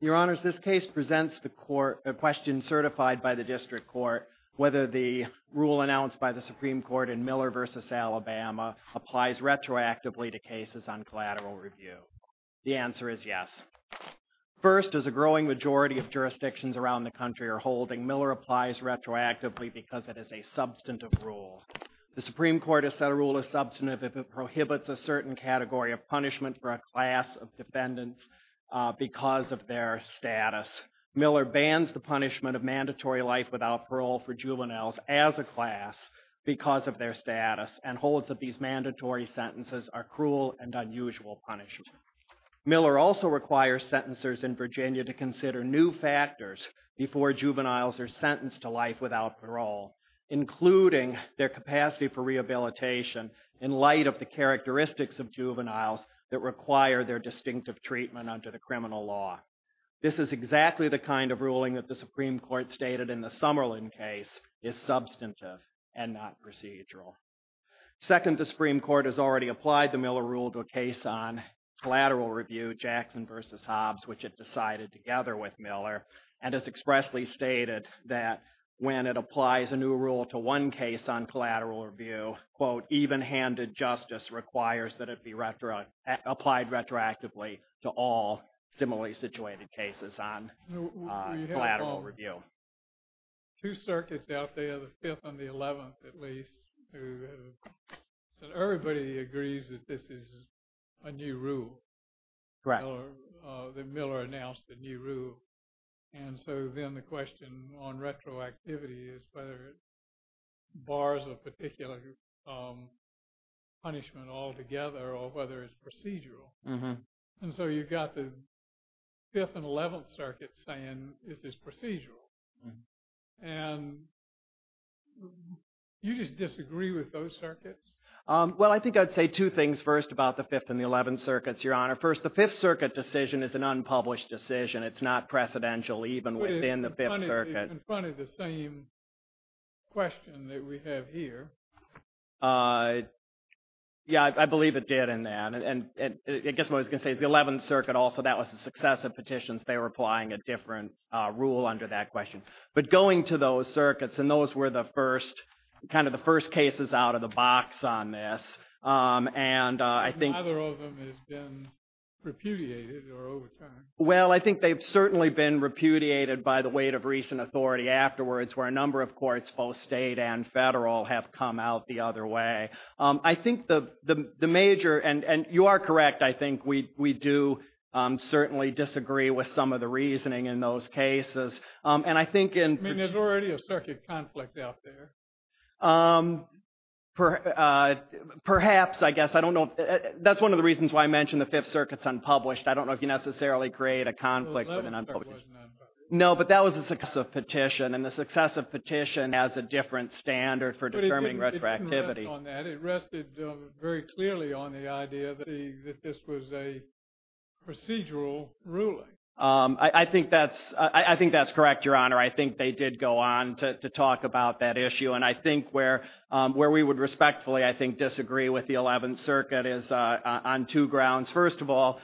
Your Honors, this case presents the court a question certified by the District Court whether the rule announced by the Supreme Court in Miller v. Alabama applies retroactively to cases on collateral review. The answer is yes. First, as a growing majority of jurisdictions around the country are holding, Miller applies retroactively because it is a substantive rule. The Supreme Court has set a rule as substantive if it prohibits a certain category of punishment for a class of defendants because of their status. Miller bans the punishment of mandatory life without parole for juveniles as a class because of their status and holds that these mandatory sentences are cruel and unusual punishment. Miller also requires sentencers in Virginia to consider new factors before juveniles are sentenced to life without parole, including their capacity for rehabilitation in light of the juveniles that require their distinctive treatment under the criminal law. This is exactly the kind of ruling that the Supreme Court stated in the Summerlin case is substantive and not procedural. Second, the Supreme Court has already applied the Miller rule to a case on collateral review, Jackson v. Hobbs, which it decided together with Miller and has expressly stated that when it applies a new rule to one case on collateral review, quote, even-handed justice requires that it be applied retroactively to all similarly situated cases on collateral review. Two circuits out there, the 5th and the 11th at least, everybody agrees that this is a new rule. Correct. That Miller announced a new rule and so then the question on retroactivity is whether it bars a particular punishment altogether or whether it's procedural. And so you've got the 5th and 11th circuits saying this is procedural. And you just disagree with those circuits? Well, I think I'd say two things first about the 5th and the 11th circuits, Your Honor. First, the 5th circuit decision is an unpublished decision. It's not Yeah, I believe it did in that. And I guess what I was going to say is the 11th circuit, also, that was the success of petitions. They were applying a different rule under that question. But going to those circuits, and those were the first, kind of the first cases out of the box on this. And I think, well, I think they've certainly been repudiated by the weight of recent authority afterwards where a I think the major, and you are correct, I think we do certainly disagree with some of the reasoning in those cases. I mean, there's already a circuit conflict out there. Perhaps, I guess, I don't know. That's one of the reasons why I mentioned the 5th circuit's unpublished. I don't know if you necessarily create a conflict. No, but that was a petition. And the success of petition has a different standard for determining retroactivity. It rested very clearly on the idea that this was a procedural ruling. I think that's correct, Your Honor. I think they did go on to talk about that issue. And I think where we would respectfully, I think, disagree with the 11th circuit is on two grounds. First of all,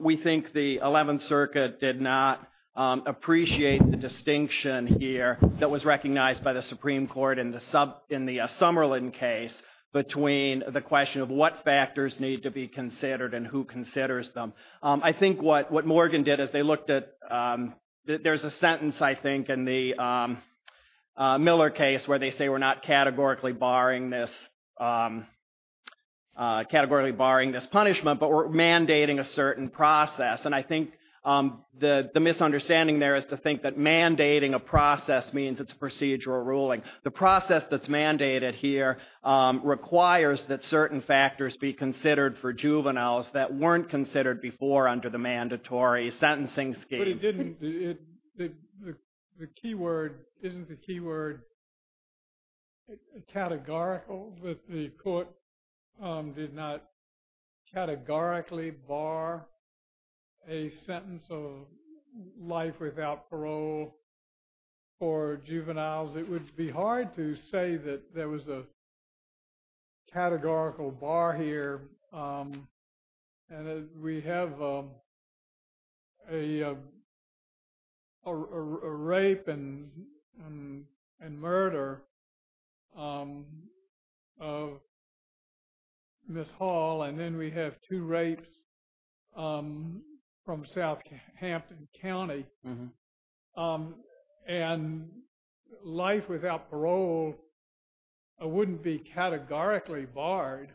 we think the 11th circuit did not appreciate the distinction here that was a Somerlin case between the question of what factors need to be considered and who considers them. I think what Morgan did is they looked at, there's a sentence, I think, in the Miller case where they say we're not categorically barring this punishment, but we're mandating a certain process. And I think the misunderstanding there is to think that mandating a process means it's a procedural ruling. The process that's mandated here requires that certain factors be considered for juveniles that weren't considered before under the mandatory sentencing scheme. But it didn't, the key word, isn't the key word categorical that the court did not categorically bar a sentence of life without parole for juveniles? It would be hard to say that there was a categorical bar here. And we have a rape and murder of Miss Hall. And then we have two rapes from Southampton County. And life without parole wouldn't be categorically barred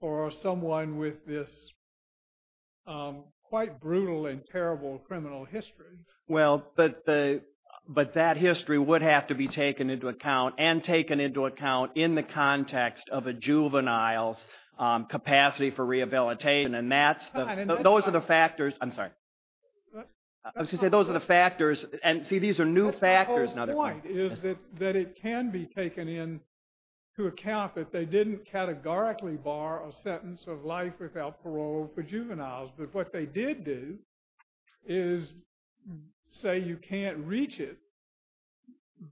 for someone with this quite brutal and terrible criminal history. Well, but that history would have to be taken into account and taken into account in the context of a juvenile's capacity for rehabilitation. And that's, those are the factors, I'm sorry, I was going to say those are the factors, and see these are new factors. But the whole point is that it can be taken into account that they didn't categorically bar a sentence of life without parole and say you can't reach it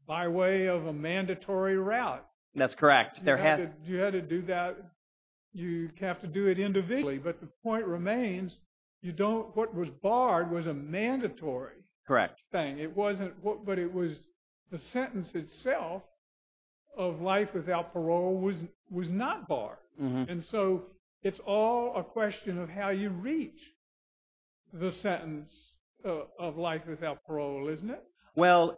by way of a mandatory route. That's correct. You had to do that, you have to do it individually. But the point remains, you don't, what was barred was a mandatory thing. It wasn't, but it was the sentence itself of life without parole was not barred. And so it's all a question of how you reach the sentence of life without parole, isn't it? Well,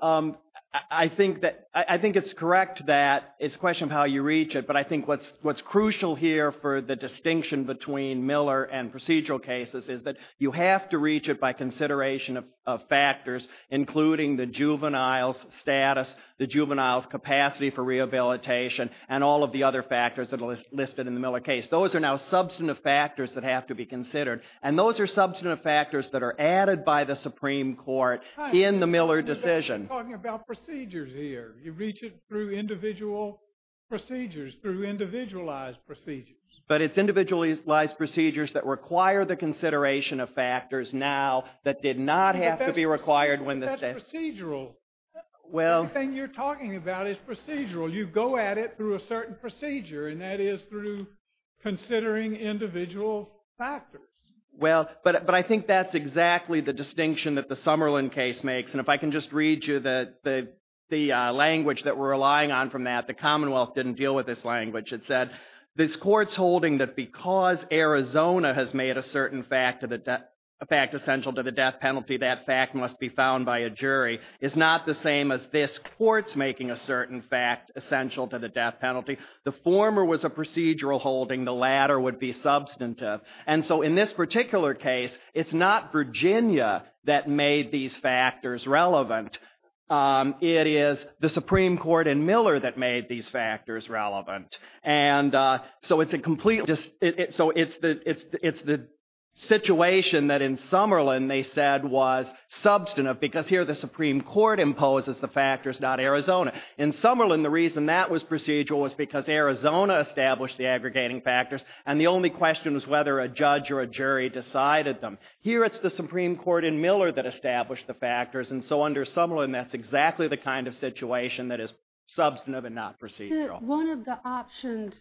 I think it's correct that it's a question of how you reach it, but I think what's crucial here for the distinction between Miller and procedural cases is that you have to reach it by consideration of factors, including the juvenile's status, the juvenile's capacity for rehabilitation, and all of the other factors that are listed in the Miller case. Those are now substantive factors that have to be considered, and those are substantive factors that are added by the Supreme Court in the Miller decision. You're talking about procedures here. You reach it through individual procedures, through individualized procedures. But it's individualized procedures that require the consideration of factors now that did not have to be required when the sentence... The thing you're talking about is procedural. You go at it through a certain procedure, and that is through considering individual factors. Well, but I think that's exactly the distinction that the Summerlin case makes. And if I can just read you the language that we're relying on from that, the Commonwealth didn't deal with this language. It said, this court's holding that because Arizona has made a certain fact essential to the death penalty, that fact must be found by a jury. It's not the same as this court's making a certain fact essential to the death penalty. The former was a procedural holding. The latter would be substantive. And so in this particular case, it's not Virginia that made these factors relevant. It is the Supreme Court in Miller that made these factors relevant. And so it's the situation that in Summerlin they said was substantive, because here the Supreme Court imposes the factors, not Arizona. In Summerlin, the reason that was procedural was because Arizona established the aggregating factors, and the only question was whether a judge or a jury decided them. Here it's the Supreme Court in Miller that established the factors. And so under Summerlin, that's exactly the kind of situation that is substantive and not procedural. One of the options,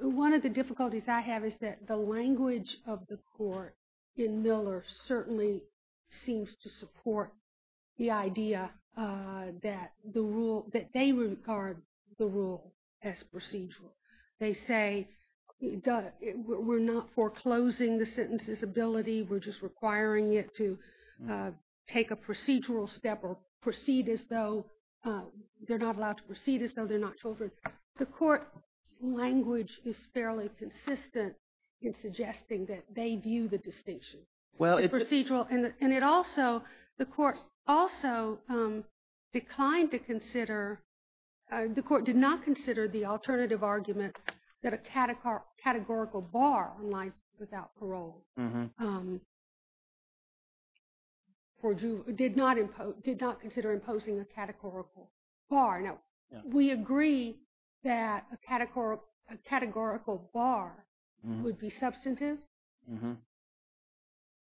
one of the difficulties I have is that the language of the court in Miller certainly seems to support the idea that the rule, that they regard the rule as procedural. They say we're not foreclosing the sentence's ability. We're just requiring it to take a procedural step or proceed as though they're not allowed to proceed as though they're not children. The court's language is fairly consistent in suggesting that they view the distinction as procedural. And it also, the court also declined to consider, the court did not consider the alternative argument that a categorical bar on life without parole did not consider imposing a categorical bar. We agree that a categorical bar would be substantive.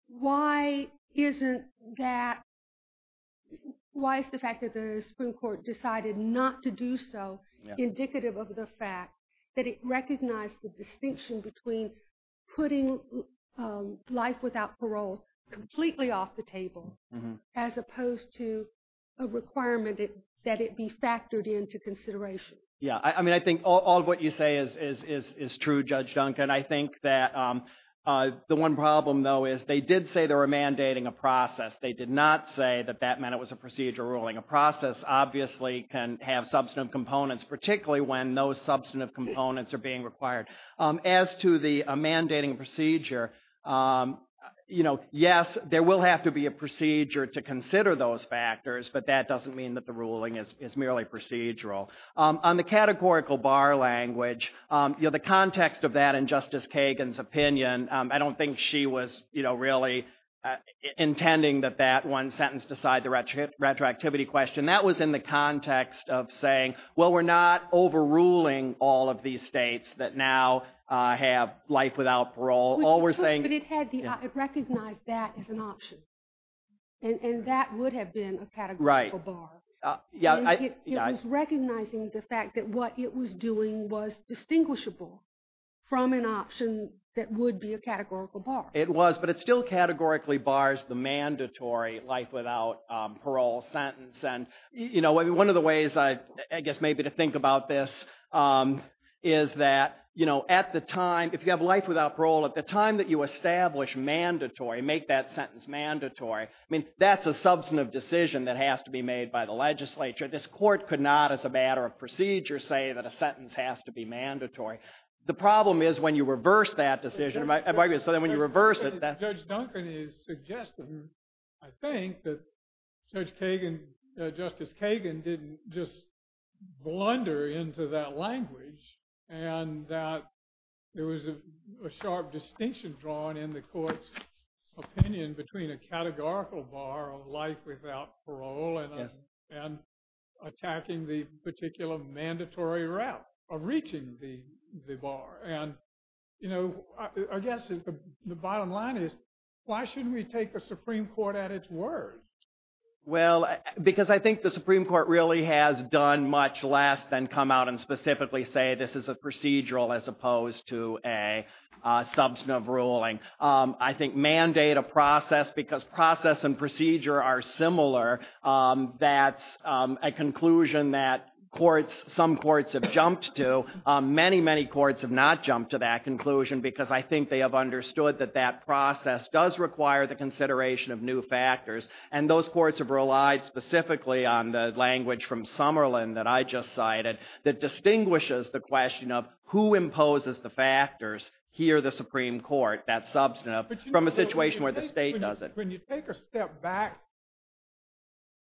Why isn't that, why is the fact that the Supreme Court decided not to do so indicative of the fact that it recognized the distinction between putting life without parole completely off the table as opposed to a requirement that it be factored into consideration? Yeah, I mean, I think all of what you say is true, Judge Duncan. I think that the one problem, though, is they did say they were mandating a process. They did not say that that meant it was a procedural ruling. A process obviously can have substantive components, particularly when those substantive components are being required. As to the mandating procedure, you know, yes, there will have to be a procedure to consider those factors, but that doesn't mean that the ruling is merely procedural. On the categorical bar language, you know, the context of that in Justice Kagan's opinion, I don't think she was, you know, really intending that that one sentence decide the retroactivity question. That was in the context of saying, well, we're not overruling all of these states that now have life without parole. But it recognized that as an option, and that would have been a categorical bar. It was recognizing the fact that what it was doing was distinguishable from an option that would be a categorical bar. It was, but it still categorically bars the mandatory life without parole sentence. And, you know, one of the ways I guess maybe to think about this is that, you know, at the time, if you have life without parole, at the time that you establish mandatory, make that sentence mandatory, I mean, that's a substantive decision that has to be made by the legislature. This court could not as a matter of procedure say that a sentence has to be mandatory. The problem is when you reverse that decision. So then when you reverse it. Judge Duncan is suggesting, I think, that Judge Kagan, Justice Kagan didn't just blunder into that language and that there was a sharp distinction drawn in the court's opinion between a categorical bar of life without parole and attacking the particular mandatory route of reaching the bar. And, you know, I guess the bottom line is, why shouldn't we take the Supreme Court at its word? Well, because I think the Supreme Court really has done much less than come out and specifically say this is a procedural as opposed to a substantive ruling. I think mandate a process because process and procedure are similar. That's a conclusion that courts, some courts have jumped to. Many, many courts have not jumped to that conclusion because I think they have understood that that process does require the consideration of new factors. And those courts have relied specifically on the language from Summerlin that I just cited that distinguishes the question of who imposes the factors here the Supreme Court, that substantive, from a situation where the state doesn't. But when you take a step back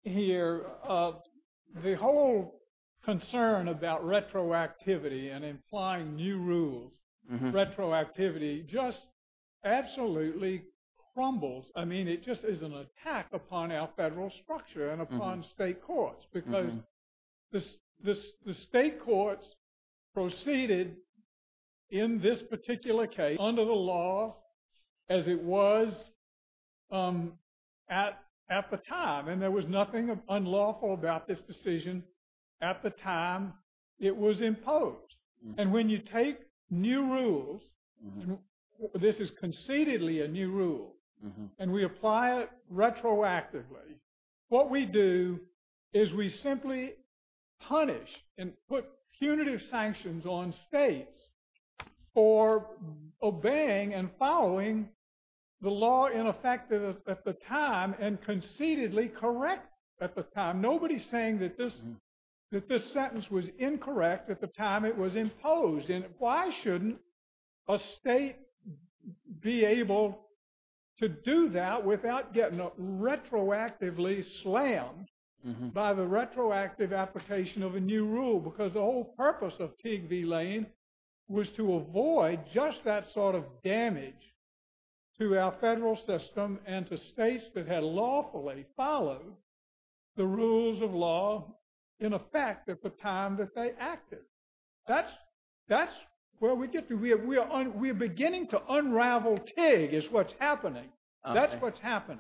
here, the whole concern about retroactivity and implying new rules, retroactivity just absolutely crumbles. I mean, it just is an attack upon our federal structure and upon state courts because the state courts proceeded in this particular case under the law as it was at the time. And there was nothing unlawful about this decision at the time it was imposed. And when you take new rules, this is concededly a new rule, and we apply it retroactively, what we do is we simply punish and put punitive sanctions on states for obeying and following the law in effect at the time and concededly correct at the time. Now, nobody's saying that this sentence was incorrect at the time it was imposed. And why shouldn't a state be able to do that without getting retroactively slammed by the retroactive application of a new rule? Because the whole purpose of TIG v. Lane was to avoid just that sort of damage to our federal system and to states that had lawfully followed the rules of law in effect at the time that they acted. That's where we get to. We're beginning to unravel TIG is what's happening. That's what's happening.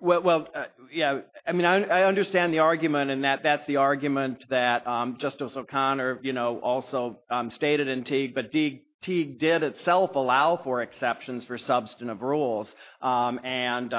Well, yeah, I mean, I understand the argument, and that's the argument that Justice O'Connor also stated in TIG, but TIG did itself allow for exceptions for substantive rules. And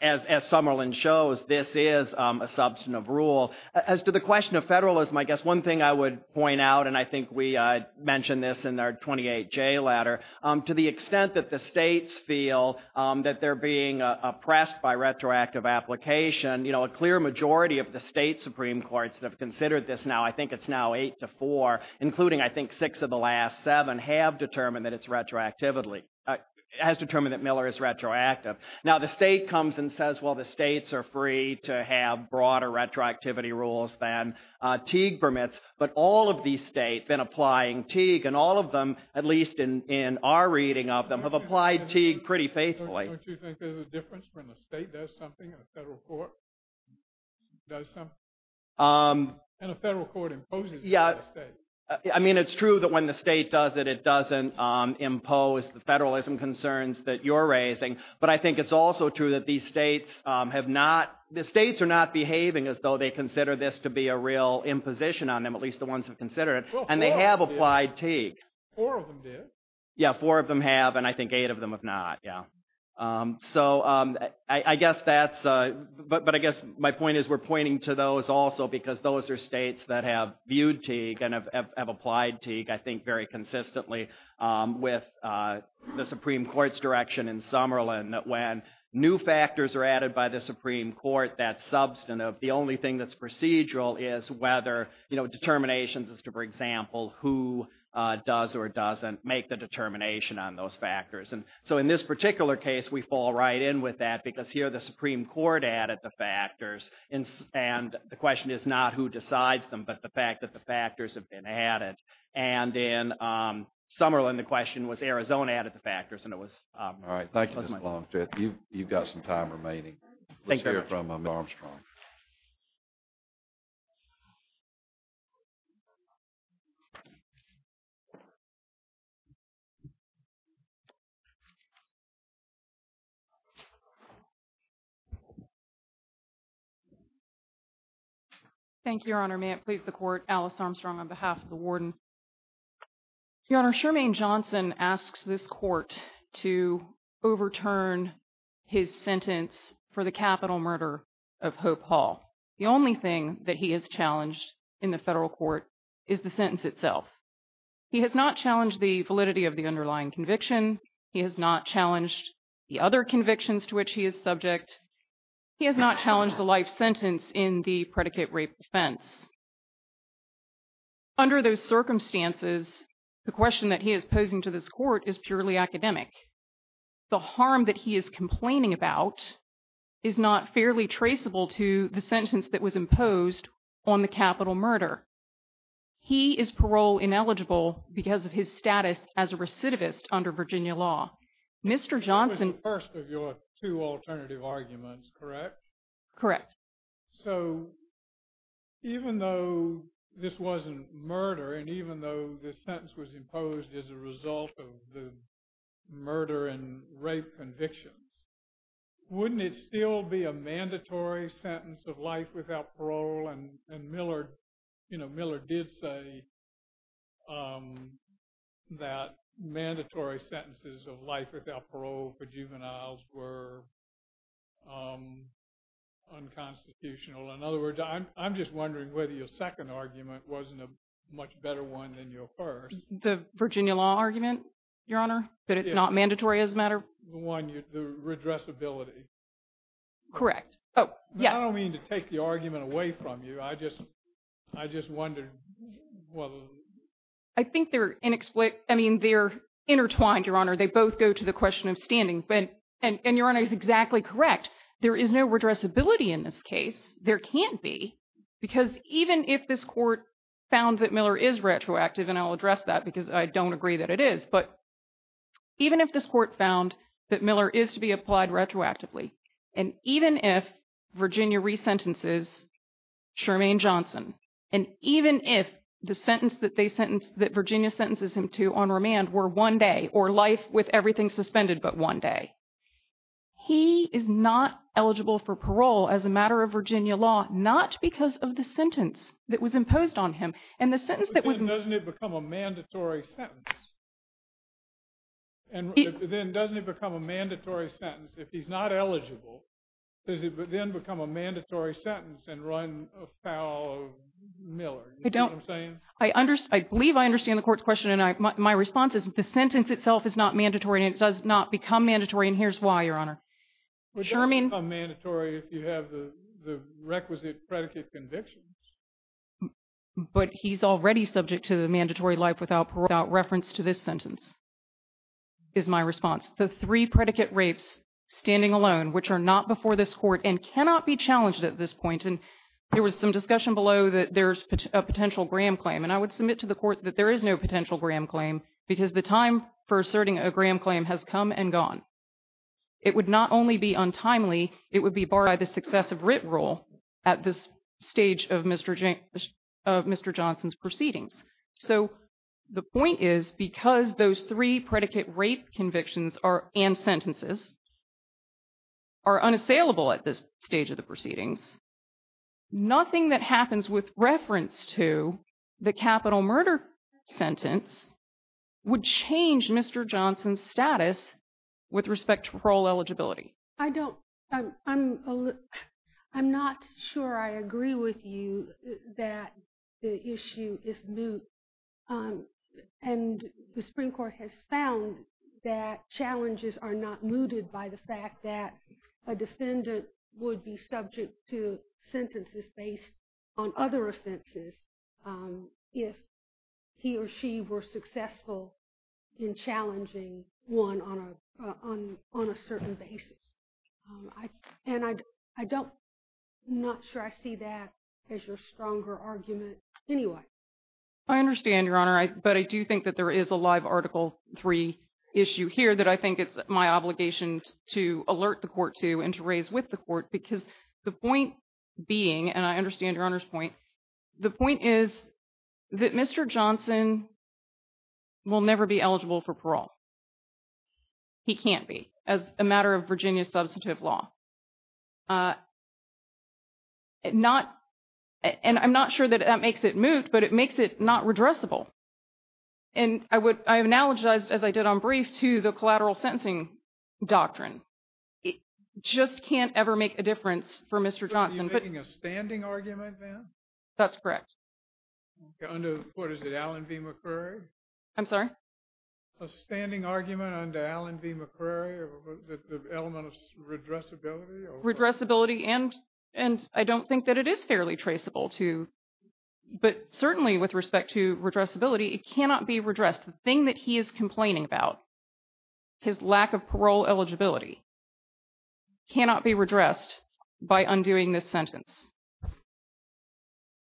as Summerlin shows, this is a substantive rule. As to the question of federalism, I guess one thing I would point out, and I think we mentioned this in our 28J letter, to the extent that the states feel that they're being oppressed by retroactive application, a clear majority of the state Supreme Courts that have considered this now, I think it's now eight to four, including I think six of the last seven, have determined that it's retroactively, has determined that Miller is retroactive. Now, the state comes and says, well, the states are free to have broader retroactivity rules than TIG permits. But all of these states, in applying TIG, and all of them, at least in our reading of them, have applied TIG pretty faithfully. Don't you think there's a difference when the state does something and the federal court does something? And the federal court imposes it on the state. I mean, it's true that when the state does it, it doesn't impose the federalism concerns that you're raising. But I think it's also true that these states have not, the states are not behaving as though they consider this to be a real imposition on them, at least the ones who consider it. And they have applied TIG. Four of them did. Yeah, four of them have, and I think eight of them have not, yeah. So I guess that's, but I guess my point is we're pointing to those also because those are states that have viewed TIG and have applied TIG, I think, very consistently with the Supreme Court's direction in Summerlin, that when new factors are added by the Supreme Court, that's substantive. The only thing that's procedural is whether, you know, determinations as to, for example, who does or doesn't make the determination on those factors. And so in this particular case, we fall right in with that because here the Supreme Court added the factors, and the question is not who decides them, but the fact that the factors have been added. And in Summerlin, the question was Arizona added the factors, and it was— All right, thank you, Mr. Longstreet. You've got some time remaining. Let's hear from Ms. Armstrong. Thank you, Your Honor. May it please the Court, Alice Armstrong on behalf of the warden. Your Honor, Shermaine Johnson asks this court to overturn his sentence for the capital murder of Hope Hall. The only thing that he has challenged in the federal court is the sentence itself. He has not challenged the validity of the underlying conviction. He has not challenged the other convictions to which he is subject. He has not challenged the life sentence in the predicate rape offense. Under those circumstances, the question that he is posing to this court is purely academic. The harm that he is complaining about is not fairly traceable to the sentence that was imposed on the capital murder. He is parole-ineligible because of his status as a recidivist under Virginia law. Mr. Johnson— This was the first of your two alternative arguments, correct? Correct. So even though this wasn't murder, and even though this sentence was imposed as a result of the murder and rape convictions, wouldn't it still be a mandatory sentence of life without parole? And Miller did say that mandatory sentences of life without parole for juveniles were unconstitutional. In other words, I'm just wondering whether your second argument wasn't a much better one than your first. The Virginia law argument, Your Honor? That it's not mandatory as a matter of— The one, the redressability. Correct. I don't mean to take the argument away from you. I just wondered whether— I think they're inexplicable. I mean, they're intertwined, Your Honor. They both go to the question of standing. And Your Honor is exactly correct. There is no redressability in this case. There can't be because even if this court found that Miller is retroactive, and I'll address that because I don't agree that it is, but even if this court found that Miller is to be applied retroactively, and even if Virginia resentences Sherman Johnson, and even if the sentence that Virginia sentences him to on remand were one day or life with everything suspended but one day, he is not eligible for parole as a matter of Virginia law, not because of the sentence that was imposed on him. And the sentence that was— But then doesn't it become a mandatory sentence? And then doesn't it become a mandatory sentence if he's not eligible? Does it then become a mandatory sentence and run afoul of Miller? I don't— You see what I'm saying? I believe I understand the court's question, and my response is the sentence itself is not mandatory, and it does not become mandatory, and here's why, Your Honor. It doesn't become mandatory if you have the requisite predicate convictions. But he's already subject to the mandatory life without parole without reference to this sentence is my response. The three predicate rapes standing alone, which are not before this court and cannot be challenged at this point, and there was some discussion below that there's a potential Graham claim, and I would submit to the court that there is no potential Graham claim because the time for asserting a Graham claim has come and gone. It would not only be untimely, it would be barred by the successive writ rule at this stage of Mr. Johnson's proceedings. So the point is because those three predicate rape convictions and sentences are unassailable at this stage of the proceedings, nothing that happens with reference to the capital murder sentence would change Mr. Johnson's status with respect to parole eligibility. I don't—I'm not sure I agree with you that the issue is moot, and the Supreme Court has found that challenges are not mooted by the fact that a defendant would be subject to sentences based on other offenses if he or she were successful in challenging one on a certain basis. And I don't—I'm not sure I see that as your stronger argument anyway. I understand, Your Honor, but I do think that there is a live Article III issue here that I think it's my obligation to alert the court to and to raise with the court because the point being, and I understand Your Honor's point, the point is that Mr. Johnson will never be eligible for parole. He can't be as a matter of Virginia substantive law. Not—and I'm not sure that that makes it moot, but it makes it not redressable. And I would—I analogize, as I did on brief, to the collateral sentencing doctrine. It just can't ever make a difference for Mr. Johnson. So you're making a standing argument then? That's correct. Under what is it, Allen v. McCrary? I'm sorry? A standing argument under Allen v. McCrary, the element of redressability? Redressability, and I don't think that it is fairly traceable to—but certainly with respect to redressability, it cannot be redressed. The thing that he is complaining about, his lack of parole eligibility, cannot be redressed by undoing this sentence.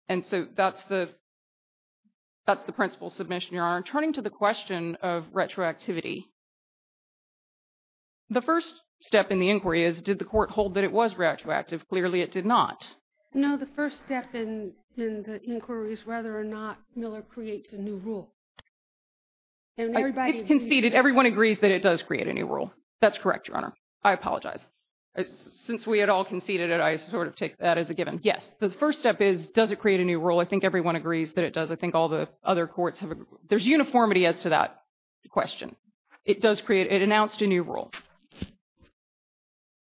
And so that's the principle submission, Your Honor. Turning to the question of retroactivity, the first step in the inquiry is, did the court hold that it was retroactive? Clearly it did not. No, the first step in the inquiry is whether or not Miller creates a new rule. It's conceded. Everyone agrees that it does create a new rule. That's correct, Your Honor. I apologize. Since we had all conceded it, I sort of take that as a given. Yes. The first step is, does it create a new rule? I think everyone agrees that it does. I think all the other courts have—there's uniformity as to that question. It does create—it announced a new rule.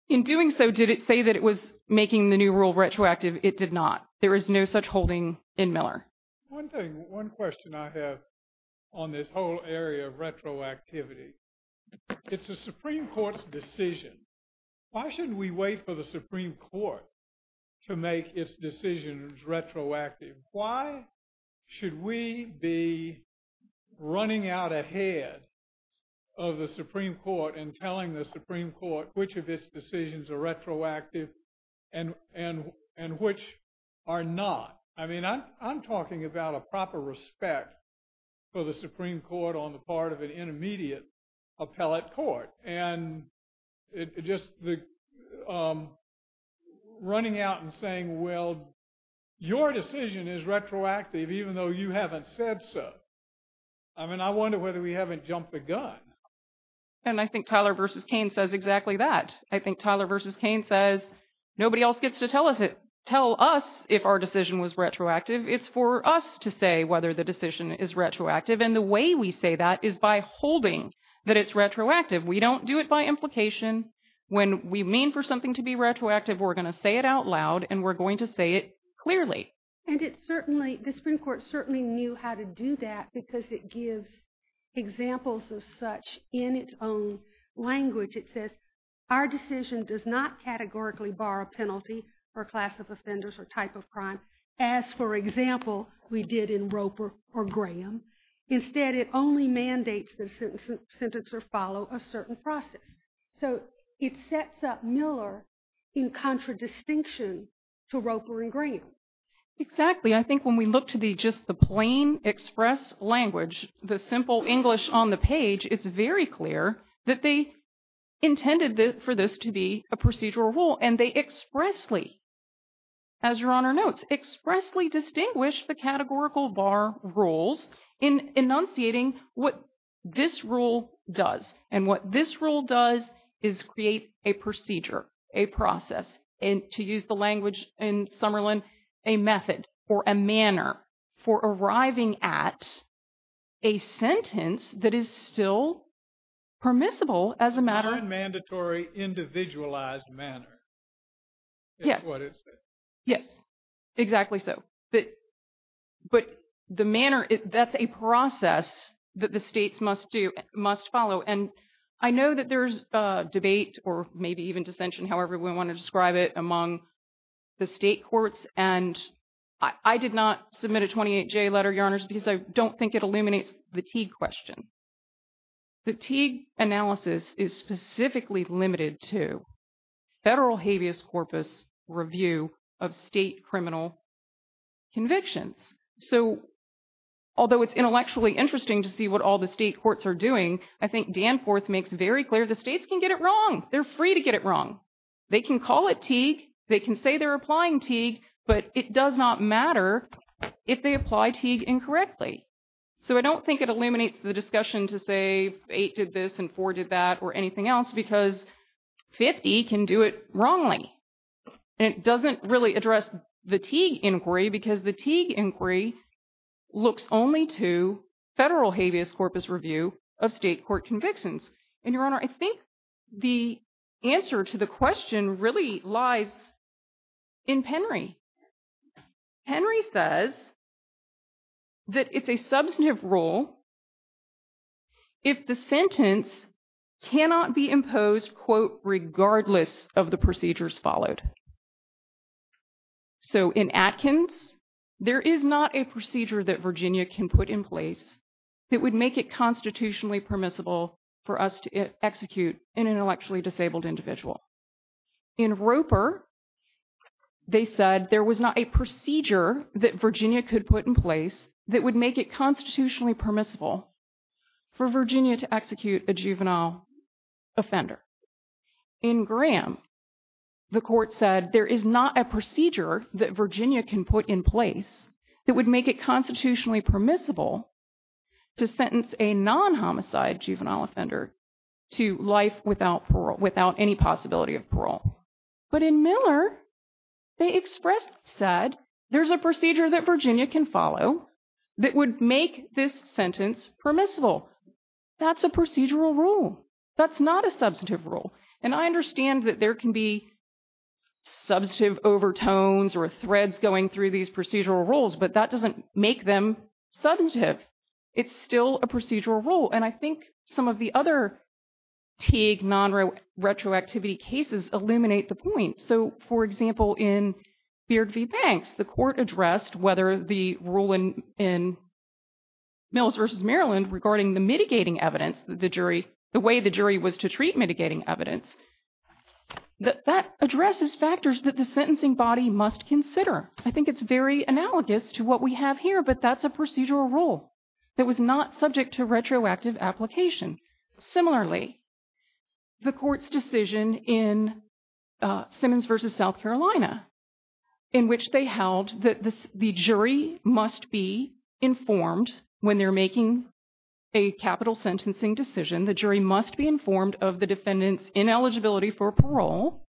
In doing so, did it say that it was making the new rule retroactive? It did not. There is no such holding in Miller. One thing, one question I have on this whole area of retroactivity, it's the Supreme Court's decision. Why shouldn't we wait for the Supreme Court to make its decisions retroactive? Why should we be running out ahead of the Supreme Court and telling the Supreme Court which of its decisions are retroactive and which are not? I mean, I'm talking about a proper respect for the Supreme Court on the part of an intermediate appellate court. And just running out and saying, well, your decision is retroactive even though you haven't said so. I mean, I wonder whether we haven't jumped the gun. And I think Tyler v. Cain says exactly that. I think Tyler v. Cain says, nobody else gets to tell us if our decision was retroactive. It's for us to say whether the decision is retroactive. And the way we say that is by holding that it's retroactive. We don't do it by implication. When we mean for something to be retroactive, we're going to say it out loud and we're going to say it clearly. And it certainly, the Supreme Court certainly knew how to do that because it gives examples of such in its own language. It says, our decision does not categorically bar a penalty for a class of offenders or type of crime as, for example, we did in Roper or Graham. Instead, it only mandates the sentence or follow a certain process. So it sets up Miller in contradistinction to Roper and Graham. Exactly. I think when we look to just the plain express language, the simple English on the page, it's very clear that they intended for this to be a procedural rule. And they expressly, as Your Honor notes, expressly distinguish the categorical bar rules in enunciating what this rule does. And what this rule does is create a procedure, a process. And to use the language in Summerlin, a method or a manner for arriving at a sentence that is still permissible as a matter. Unmandatory individualized manner is what it says. Yes. Exactly so. But the manner, that's a process that the states must do, must follow. And I know that there's debate or maybe even dissension, however we want to describe it, among the state courts. And I did not submit a 28-J letter, Your Honors, because I don't think it illuminates the Teague question. The Teague analysis is specifically limited to federal habeas corpus review of state criminal convictions. So although it's intellectually interesting to see what all the state courts are doing, I think Danforth makes very clear the states can get it wrong. They're free to get it wrong. They can call it Teague. They can say they're applying Teague. But it does not matter if they apply Teague incorrectly. So I don't think it illuminates the discussion to say eight did this and four did that or anything else because 50 can do it wrongly. And it doesn't really address the Teague inquiry because the Teague inquiry looks only to federal habeas corpus review of state court convictions. And, Your Honor, I think the answer to the question really lies in Penry. Henry says that it's a substantive rule if the sentence cannot be imposed, quote, regardless of the procedures followed. So in Atkins, there is not a procedure that Virginia can put in place that would make it constitutionally permissible for us to execute an intellectually disabled individual. In Roper, they said there was not a procedure that Virginia could put in place that would make it constitutionally permissible for Virginia to execute a juvenile offender. In Graham, the court said there is not a procedure that Virginia can put in place that would make it constitutionally permissible to sentence a non-homicide juvenile offender to life without parole, without any possibility of parole. But in Miller, they expressed, said there's a procedure that Virginia can follow that would make this sentence permissible. That's a procedural rule. That's not a substantive rule. And I understand that there can be substantive overtones or threads going through these procedural rules, but that doesn't make them substantive. It's still a procedural rule. And I think some of the other Teague non-retroactivity cases illuminate the point. So, for example, in Beard v. Banks, the court addressed whether the rule in Mills v. Maryland regarding the mitigating evidence, the jury, the way the jury was to treat mitigating evidence, that addresses factors that the sentencing body must consider. I think it's very analogous to what we have here, but that's a procedural rule that was not subject to retroactive application. Similarly, the court's decision in Simmons v. South Carolina, in which they held that the jury must be informed when they're making a capital sentencing decision. The jury must be informed of the defendant's ineligibility for parole.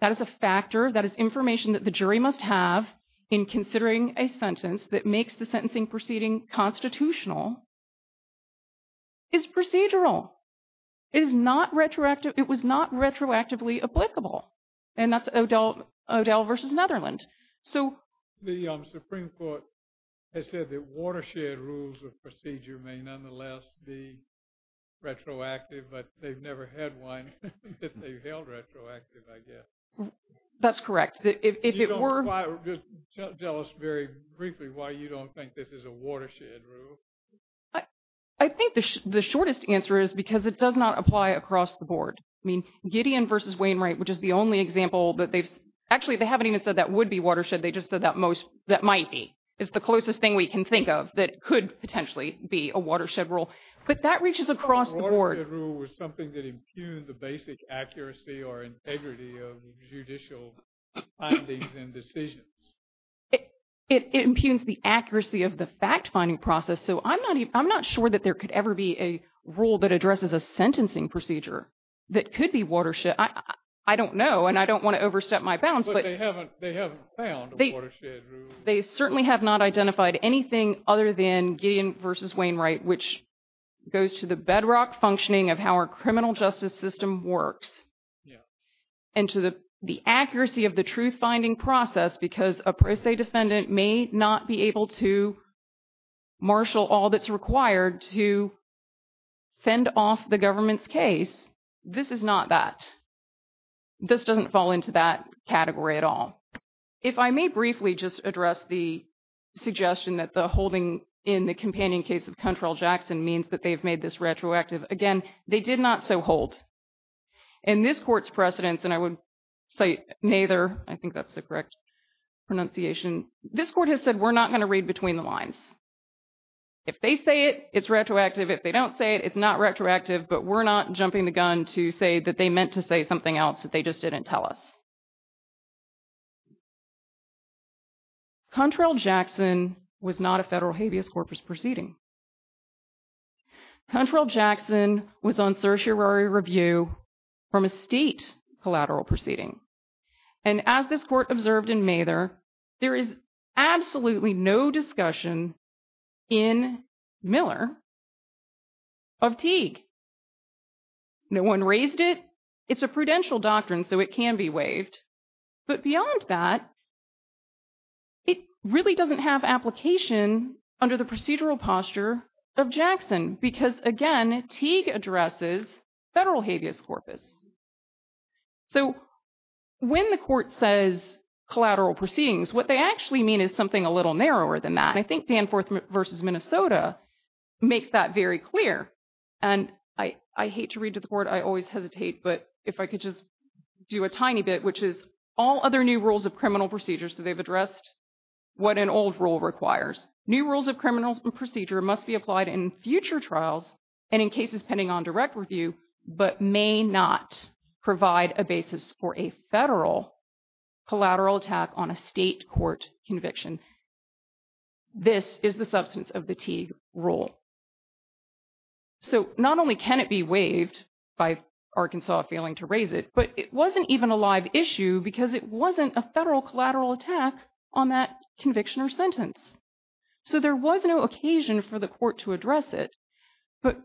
That is a factor. That is information that the jury must have in considering a sentence that makes the sentencing proceeding constitutional. It's procedural. It is not retroactive. It was not retroactively applicable. And that's O'Dell v. Netherlands. The Supreme Court has said that watershed rules of procedure may nonetheless be retroactive, but they've never had one that they've held retroactive, I guess. That's correct. Just tell us very briefly why you don't think this is a watershed rule. I think the shortest answer is because it does not apply across the board. I mean, Gideon v. Wainwright, which is the only example that they've – actually, they haven't even said that would be watershed. They just said that most – that might be. It's the closest thing we can think of that could potentially be a watershed rule. But that reaches across the board. A watershed rule was something that impugned the basic accuracy or integrity of judicial findings and decisions. It impugns the accuracy of the fact-finding process. So I'm not sure that there could ever be a rule that addresses a sentencing procedure that could be watershed. I don't know, and I don't want to overstep my bounds. But they haven't found a watershed rule. They certainly have not identified anything other than Gideon v. Wainwright, which goes to the bedrock functioning of how our criminal justice system works. And to the accuracy of the truth-finding process, because a pro se defendant may not be able to marshal all that's required to fend off the government's case, this is not that. This doesn't fall into that category at all. If I may briefly just address the suggestion that the holding in the companion case of Cuntrell Jackson means that they've made this retroactive. Again, they did not so hold. In this court's precedence, and I would cite Nather, I think that's the correct pronunciation. This court has said we're not going to read between the lines. If they say it, it's retroactive. If they don't say it, it's not retroactive. But we're not jumping the gun to say that they meant to say something else that they just didn't tell us. Cuntrell Jackson was not a federal habeas corpus proceeding. Cuntrell Jackson was on certiorari review from a state collateral proceeding. And as this court observed in Nather, there is absolutely no discussion in Miller of Teague. No one raised it. It's a prudential doctrine, so it can be waived. But beyond that, it really doesn't have application under the procedural posture of Jackson because, again, Teague addresses federal habeas corpus. So when the court says collateral proceedings, what they actually mean is something a little narrower than that. And I think Danforth v. Minnesota makes that very clear. And I hate to read to the court. I always hesitate. But if I could just do a tiny bit, which is all other new rules of criminal procedure. So they've addressed what an old rule requires. New rules of criminal procedure must be applied in future trials and in cases pending on direct review, but may not provide a basis for a federal collateral attack on a state court conviction. This is the substance of the Teague rule. So not only can it be waived by Arkansas failing to raise it, but it wasn't even a live issue because it wasn't a federal collateral attack on that conviction or sentence. So there was no occasion for the court to address it. But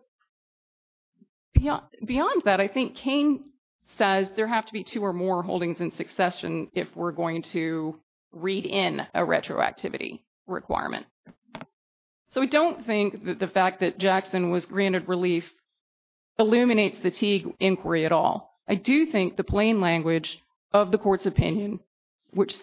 beyond that, I think Kane says there have to be two or more holdings in succession if we're going to read in a retroactivity requirement. So I don't think that the fact that Jackson was granted relief illuminates the Teague inquiry at all. I do think the plain language of the court's opinion, which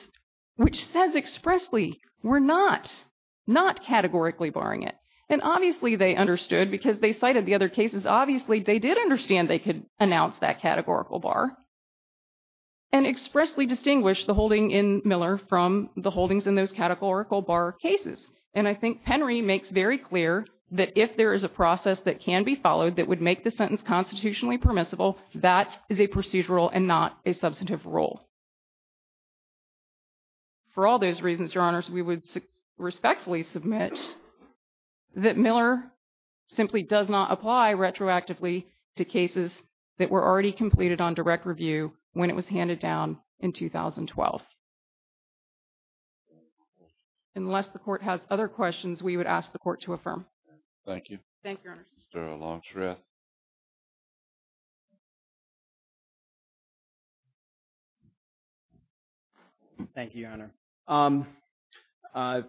says expressly we're not categorically barring it. And obviously, they understood because they cited the other cases. Obviously, they did understand they could announce that categorical bar and expressly distinguish the holding in Miller from the holdings in those categorical bar cases. And I think Penry makes very clear that if there is a process that can be followed that would make the sentence constitutionally permissible, that is a procedural and not a substantive rule. For all those reasons, Your Honors, we would respectfully submit that Miller simply does not apply retroactively to cases that were already completed on direct review when it was handed down in 2012. Unless the court has other questions, we would ask the court to affirm. Thank you. Thank you, Your Honors. Mr. Longstreth. Thank you, Your Honor.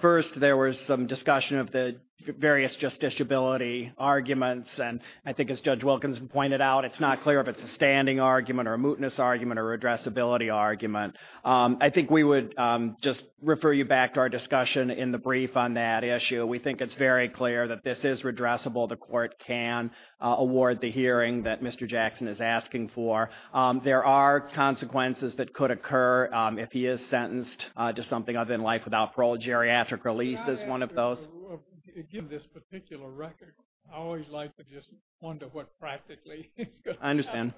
First, there was some discussion of the various justiciability arguments. And I think as Judge Wilkinson pointed out, it's not clear if it's a standing argument or a mootness argument or a redressability argument. I think we would just refer you back to our discussion in the brief on that issue. We think it's very clear that this is redressable. The court can award the hearing that Mr. Jackson is asking for. There are consequences that could occur if he is sentenced to something other than life without parole. Geriatric release is one of those. Given this particular record, I always like to just wonder what practically is going to happen. I understand.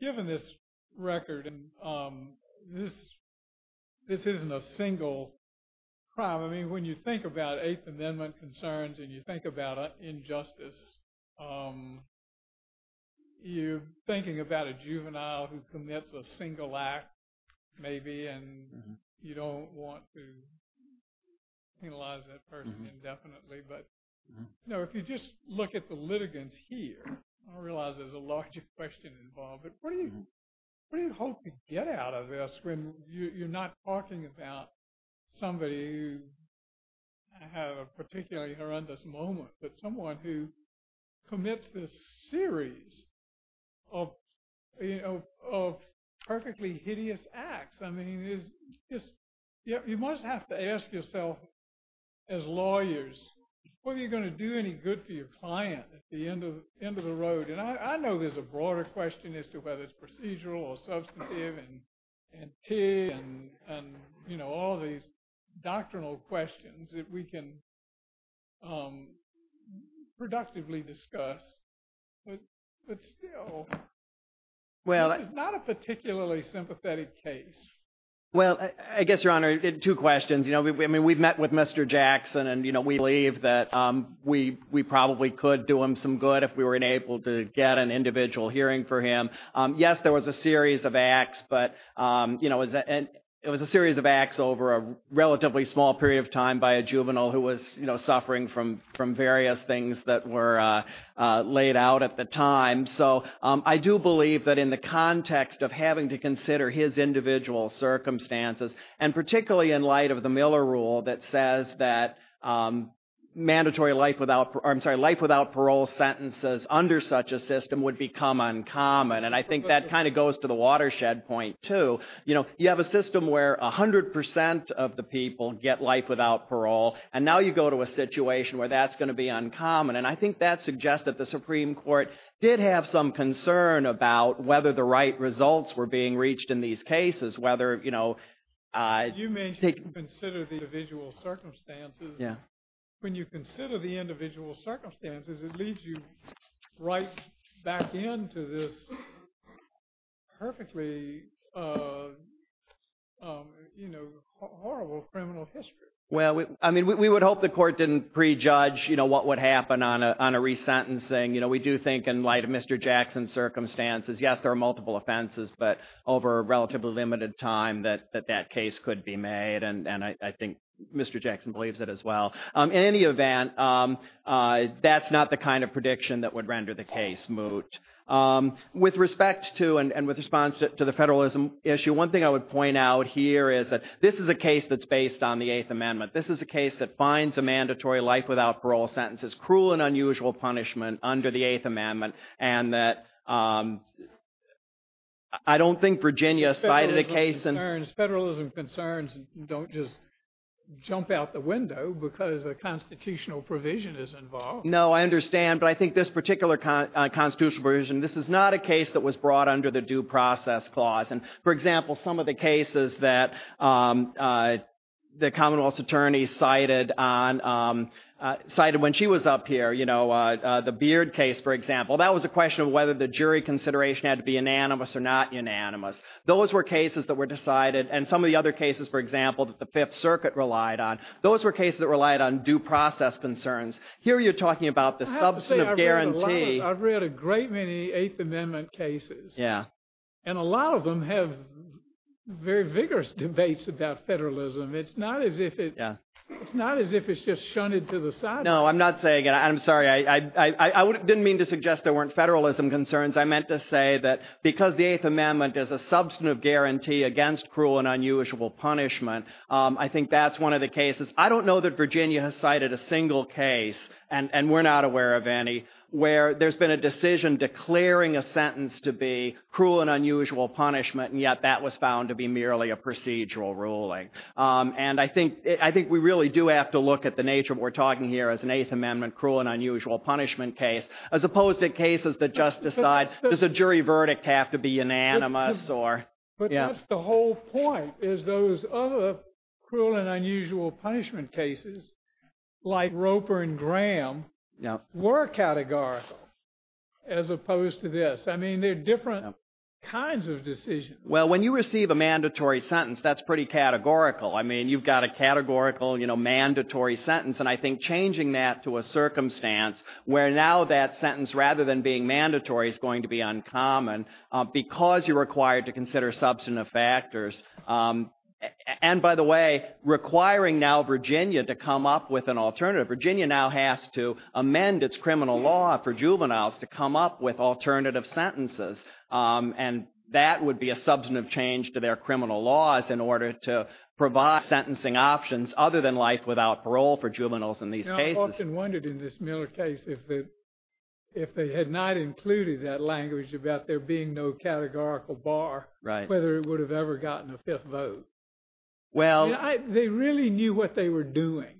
Given this record, this isn't a single crime. I mean, when you think about Eighth Amendment concerns and you think about injustice, you're thinking about a juvenile who commits a single act, maybe, and you don't want to penalize that person indefinitely. But if you just look at the litigants here, I realize there's a larger question involved. But what do you hope to get out of this when you're not talking about somebody who had a particularly horrendous moment, but someone who commits this series of perfectly hideous acts? I mean, you must have to ask yourself as lawyers, what are you going to do any good for your client at the end of the road? And I know there's a broader question as to whether it's procedural or substantive and all these doctrinal questions that we can productively discuss. But still, this is not a particularly sympathetic case. Well, I guess, Your Honor, two questions. I mean, we've met with Mr. Jackson, and we believe that we probably could do him some good if we were able to get an individual hearing for him. Yes, there was a series of acts, but it was a series of acts over a relatively small period of time by a juvenile who was suffering from various things that were laid out at the time. So I do believe that in the context of having to consider his individual circumstances, and particularly in light of the Miller Rule that says that life without parole sentences under such a system would become uncommon. And I think that kind of goes to the watershed point, too. You have a system where 100 percent of the people get life without parole, and now you go to a situation where that's going to be uncommon. And I think that suggests that the Supreme Court did have some concern about whether the right results were being reached in these cases, whether – You mentioned consider the individual circumstances. Yeah. When you consider the individual circumstances, it leads you right back into this perfectly horrible criminal history. Well, I mean, we would hope the court didn't prejudge what would happen on a resentencing. We do think in light of Mr. Jackson's circumstances, yes, there are multiple offenses, but over a relatively limited time that that case could be made, and I think Mr. Jackson believes it as well. In any event, that's not the kind of prediction that would render the case moot. With respect to and with response to the federalism issue, one thing I would point out here is that this is a case that's based on the Eighth Amendment. This is a case that finds a mandatory life without parole sentence as cruel and unusual punishment under the Eighth Amendment, and that I don't think Virginia cited a case in – Federalism concerns don't just jump out the window because a constitutional provision is involved. No, I understand, but I think this particular constitutional provision, this is not a case that was brought under the Due Process Clause. For example, some of the cases that the Commonwealth's attorney cited when she was up here, the Beard case, for example, that was a question of whether the jury consideration had to be unanimous or not unanimous. Those were cases that were decided, and some of the other cases, for example, that the Fifth Circuit relied on, those were cases that relied on due process concerns. Here you're talking about the substantive guarantee. I've read a great many Eighth Amendment cases, and a lot of them have very vigorous debates about federalism. It's not as if it's just shunted to the side. No, I'm not saying – I'm sorry. I didn't mean to suggest there weren't federalism concerns. I meant to say that because the Eighth Amendment is a substantive guarantee against cruel and unusual punishment, I think that's one of the cases. I don't know that Virginia has cited a single case, and we're not aware of any, where there's been a decision declaring a sentence to be cruel and unusual punishment, and yet that was found to be merely a procedural ruling. And I think we really do have to look at the nature of what we're talking here as an Eighth Amendment cruel and unusual punishment case, as opposed to cases that just decide does a jury verdict have to be unanimous or – But that's the whole point, is those other cruel and unusual punishment cases, like Roper and Graham, were categorical as opposed to this. I mean, they're different kinds of decisions. Well, when you receive a mandatory sentence, that's pretty categorical. I mean, you've got a categorical mandatory sentence, and I think changing that to a circumstance where now that sentence, rather than being mandatory, is going to be uncommon because you're required to consider substantive factors. And by the way, requiring now Virginia to come up with an alternative, Virginia now has to amend its criminal law for juveniles to come up with alternative sentences. And that would be a substantive change to their criminal laws in order to provide sentencing options other than life without parole for juveniles in these cases. I often wondered in this Miller case if they had not included that language about there being no categorical bar, whether it would have ever gotten a fifth vote. Well – They really knew what they were doing.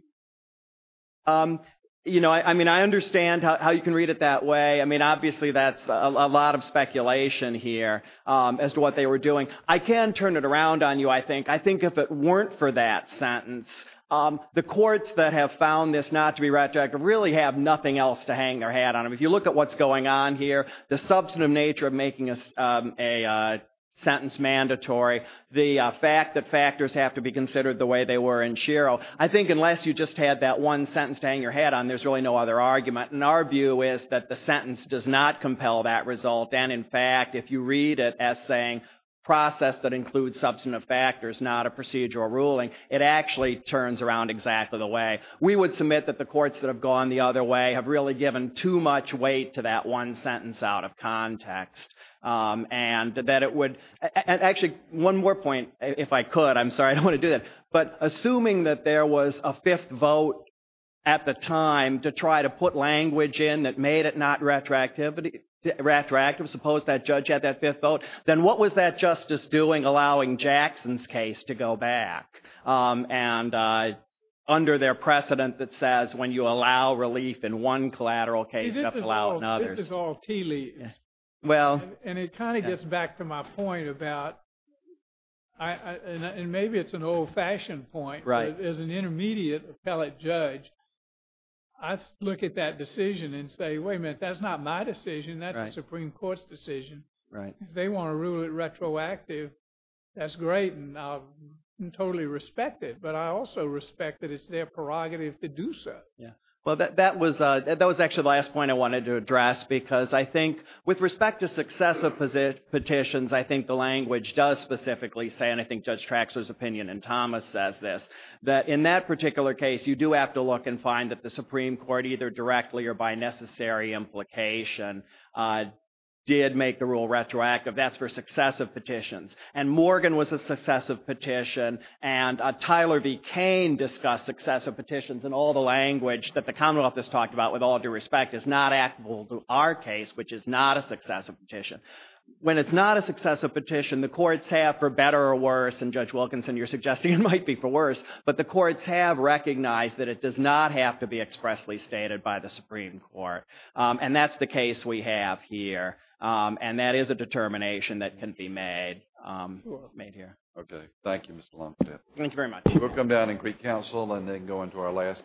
You know, I mean, I understand how you can read it that way. I mean, obviously, that's a lot of speculation here as to what they were doing. I can turn it around on you, I think. I think if it weren't for that sentence, the courts that have found this not to be retroactive really have nothing else to hang their hat on. If you look at what's going on here, the substantive nature of making a sentence mandatory, the fact that factors have to be considered the way they were in Shiro. I think unless you just had that one sentence to hang your hat on, there's really no other argument. And our view is that the sentence does not compel that result. And, in fact, if you read it as saying process that includes substantive factors, not a procedural ruling, it actually turns around exactly the way. We would submit that the courts that have gone the other way have really given too much weight to that one sentence out of context. And that it would – actually, one more point, if I could. I'm sorry, I don't want to do that. But assuming that there was a fifth vote at the time to try to put language in that made it not retroactive, suppose that judge had that fifth vote, then what was that justice doing allowing Jackson's case to go back? And under their precedent that says when you allow relief in one collateral case, you have to allow it in others. This is all tea leaves. And it kind of gets back to my point about – and maybe it's an old-fashioned point. As an intermediate appellate judge, I look at that decision and say, wait a minute, that's not my decision. That's a Supreme Court's decision. If they want to rule it retroactive, that's great, and I totally respect it. But I also respect that it's their prerogative to do so. Well, that was actually the last point I wanted to address because I think with respect to successive petitions, I think the language does specifically say, and I think Judge Traxler's opinion and Thomas says this, that in that particular case, you do have to look and find that the Supreme Court either directly or by necessary implication did make the rule retroactive. That's for successive petitions. And Morgan was a successive petition, and Tyler B. Cain discussed successive petitions, and all the language that the Commonwealth has talked about with all due respect is not applicable to our case, which is not a successive petition. When it's not a successive petition, the courts have, for better or worse, and Judge Wilkinson, you're suggesting it might be for worse, but the courts have recognized that it does not have to be expressly stated by the Supreme Court. And that's the case we have here, and that is a determination that can be made here. Okay, thank you, Mr. Longstaff. Thank you very much. We'll come down and greet counsel and then go into our last case.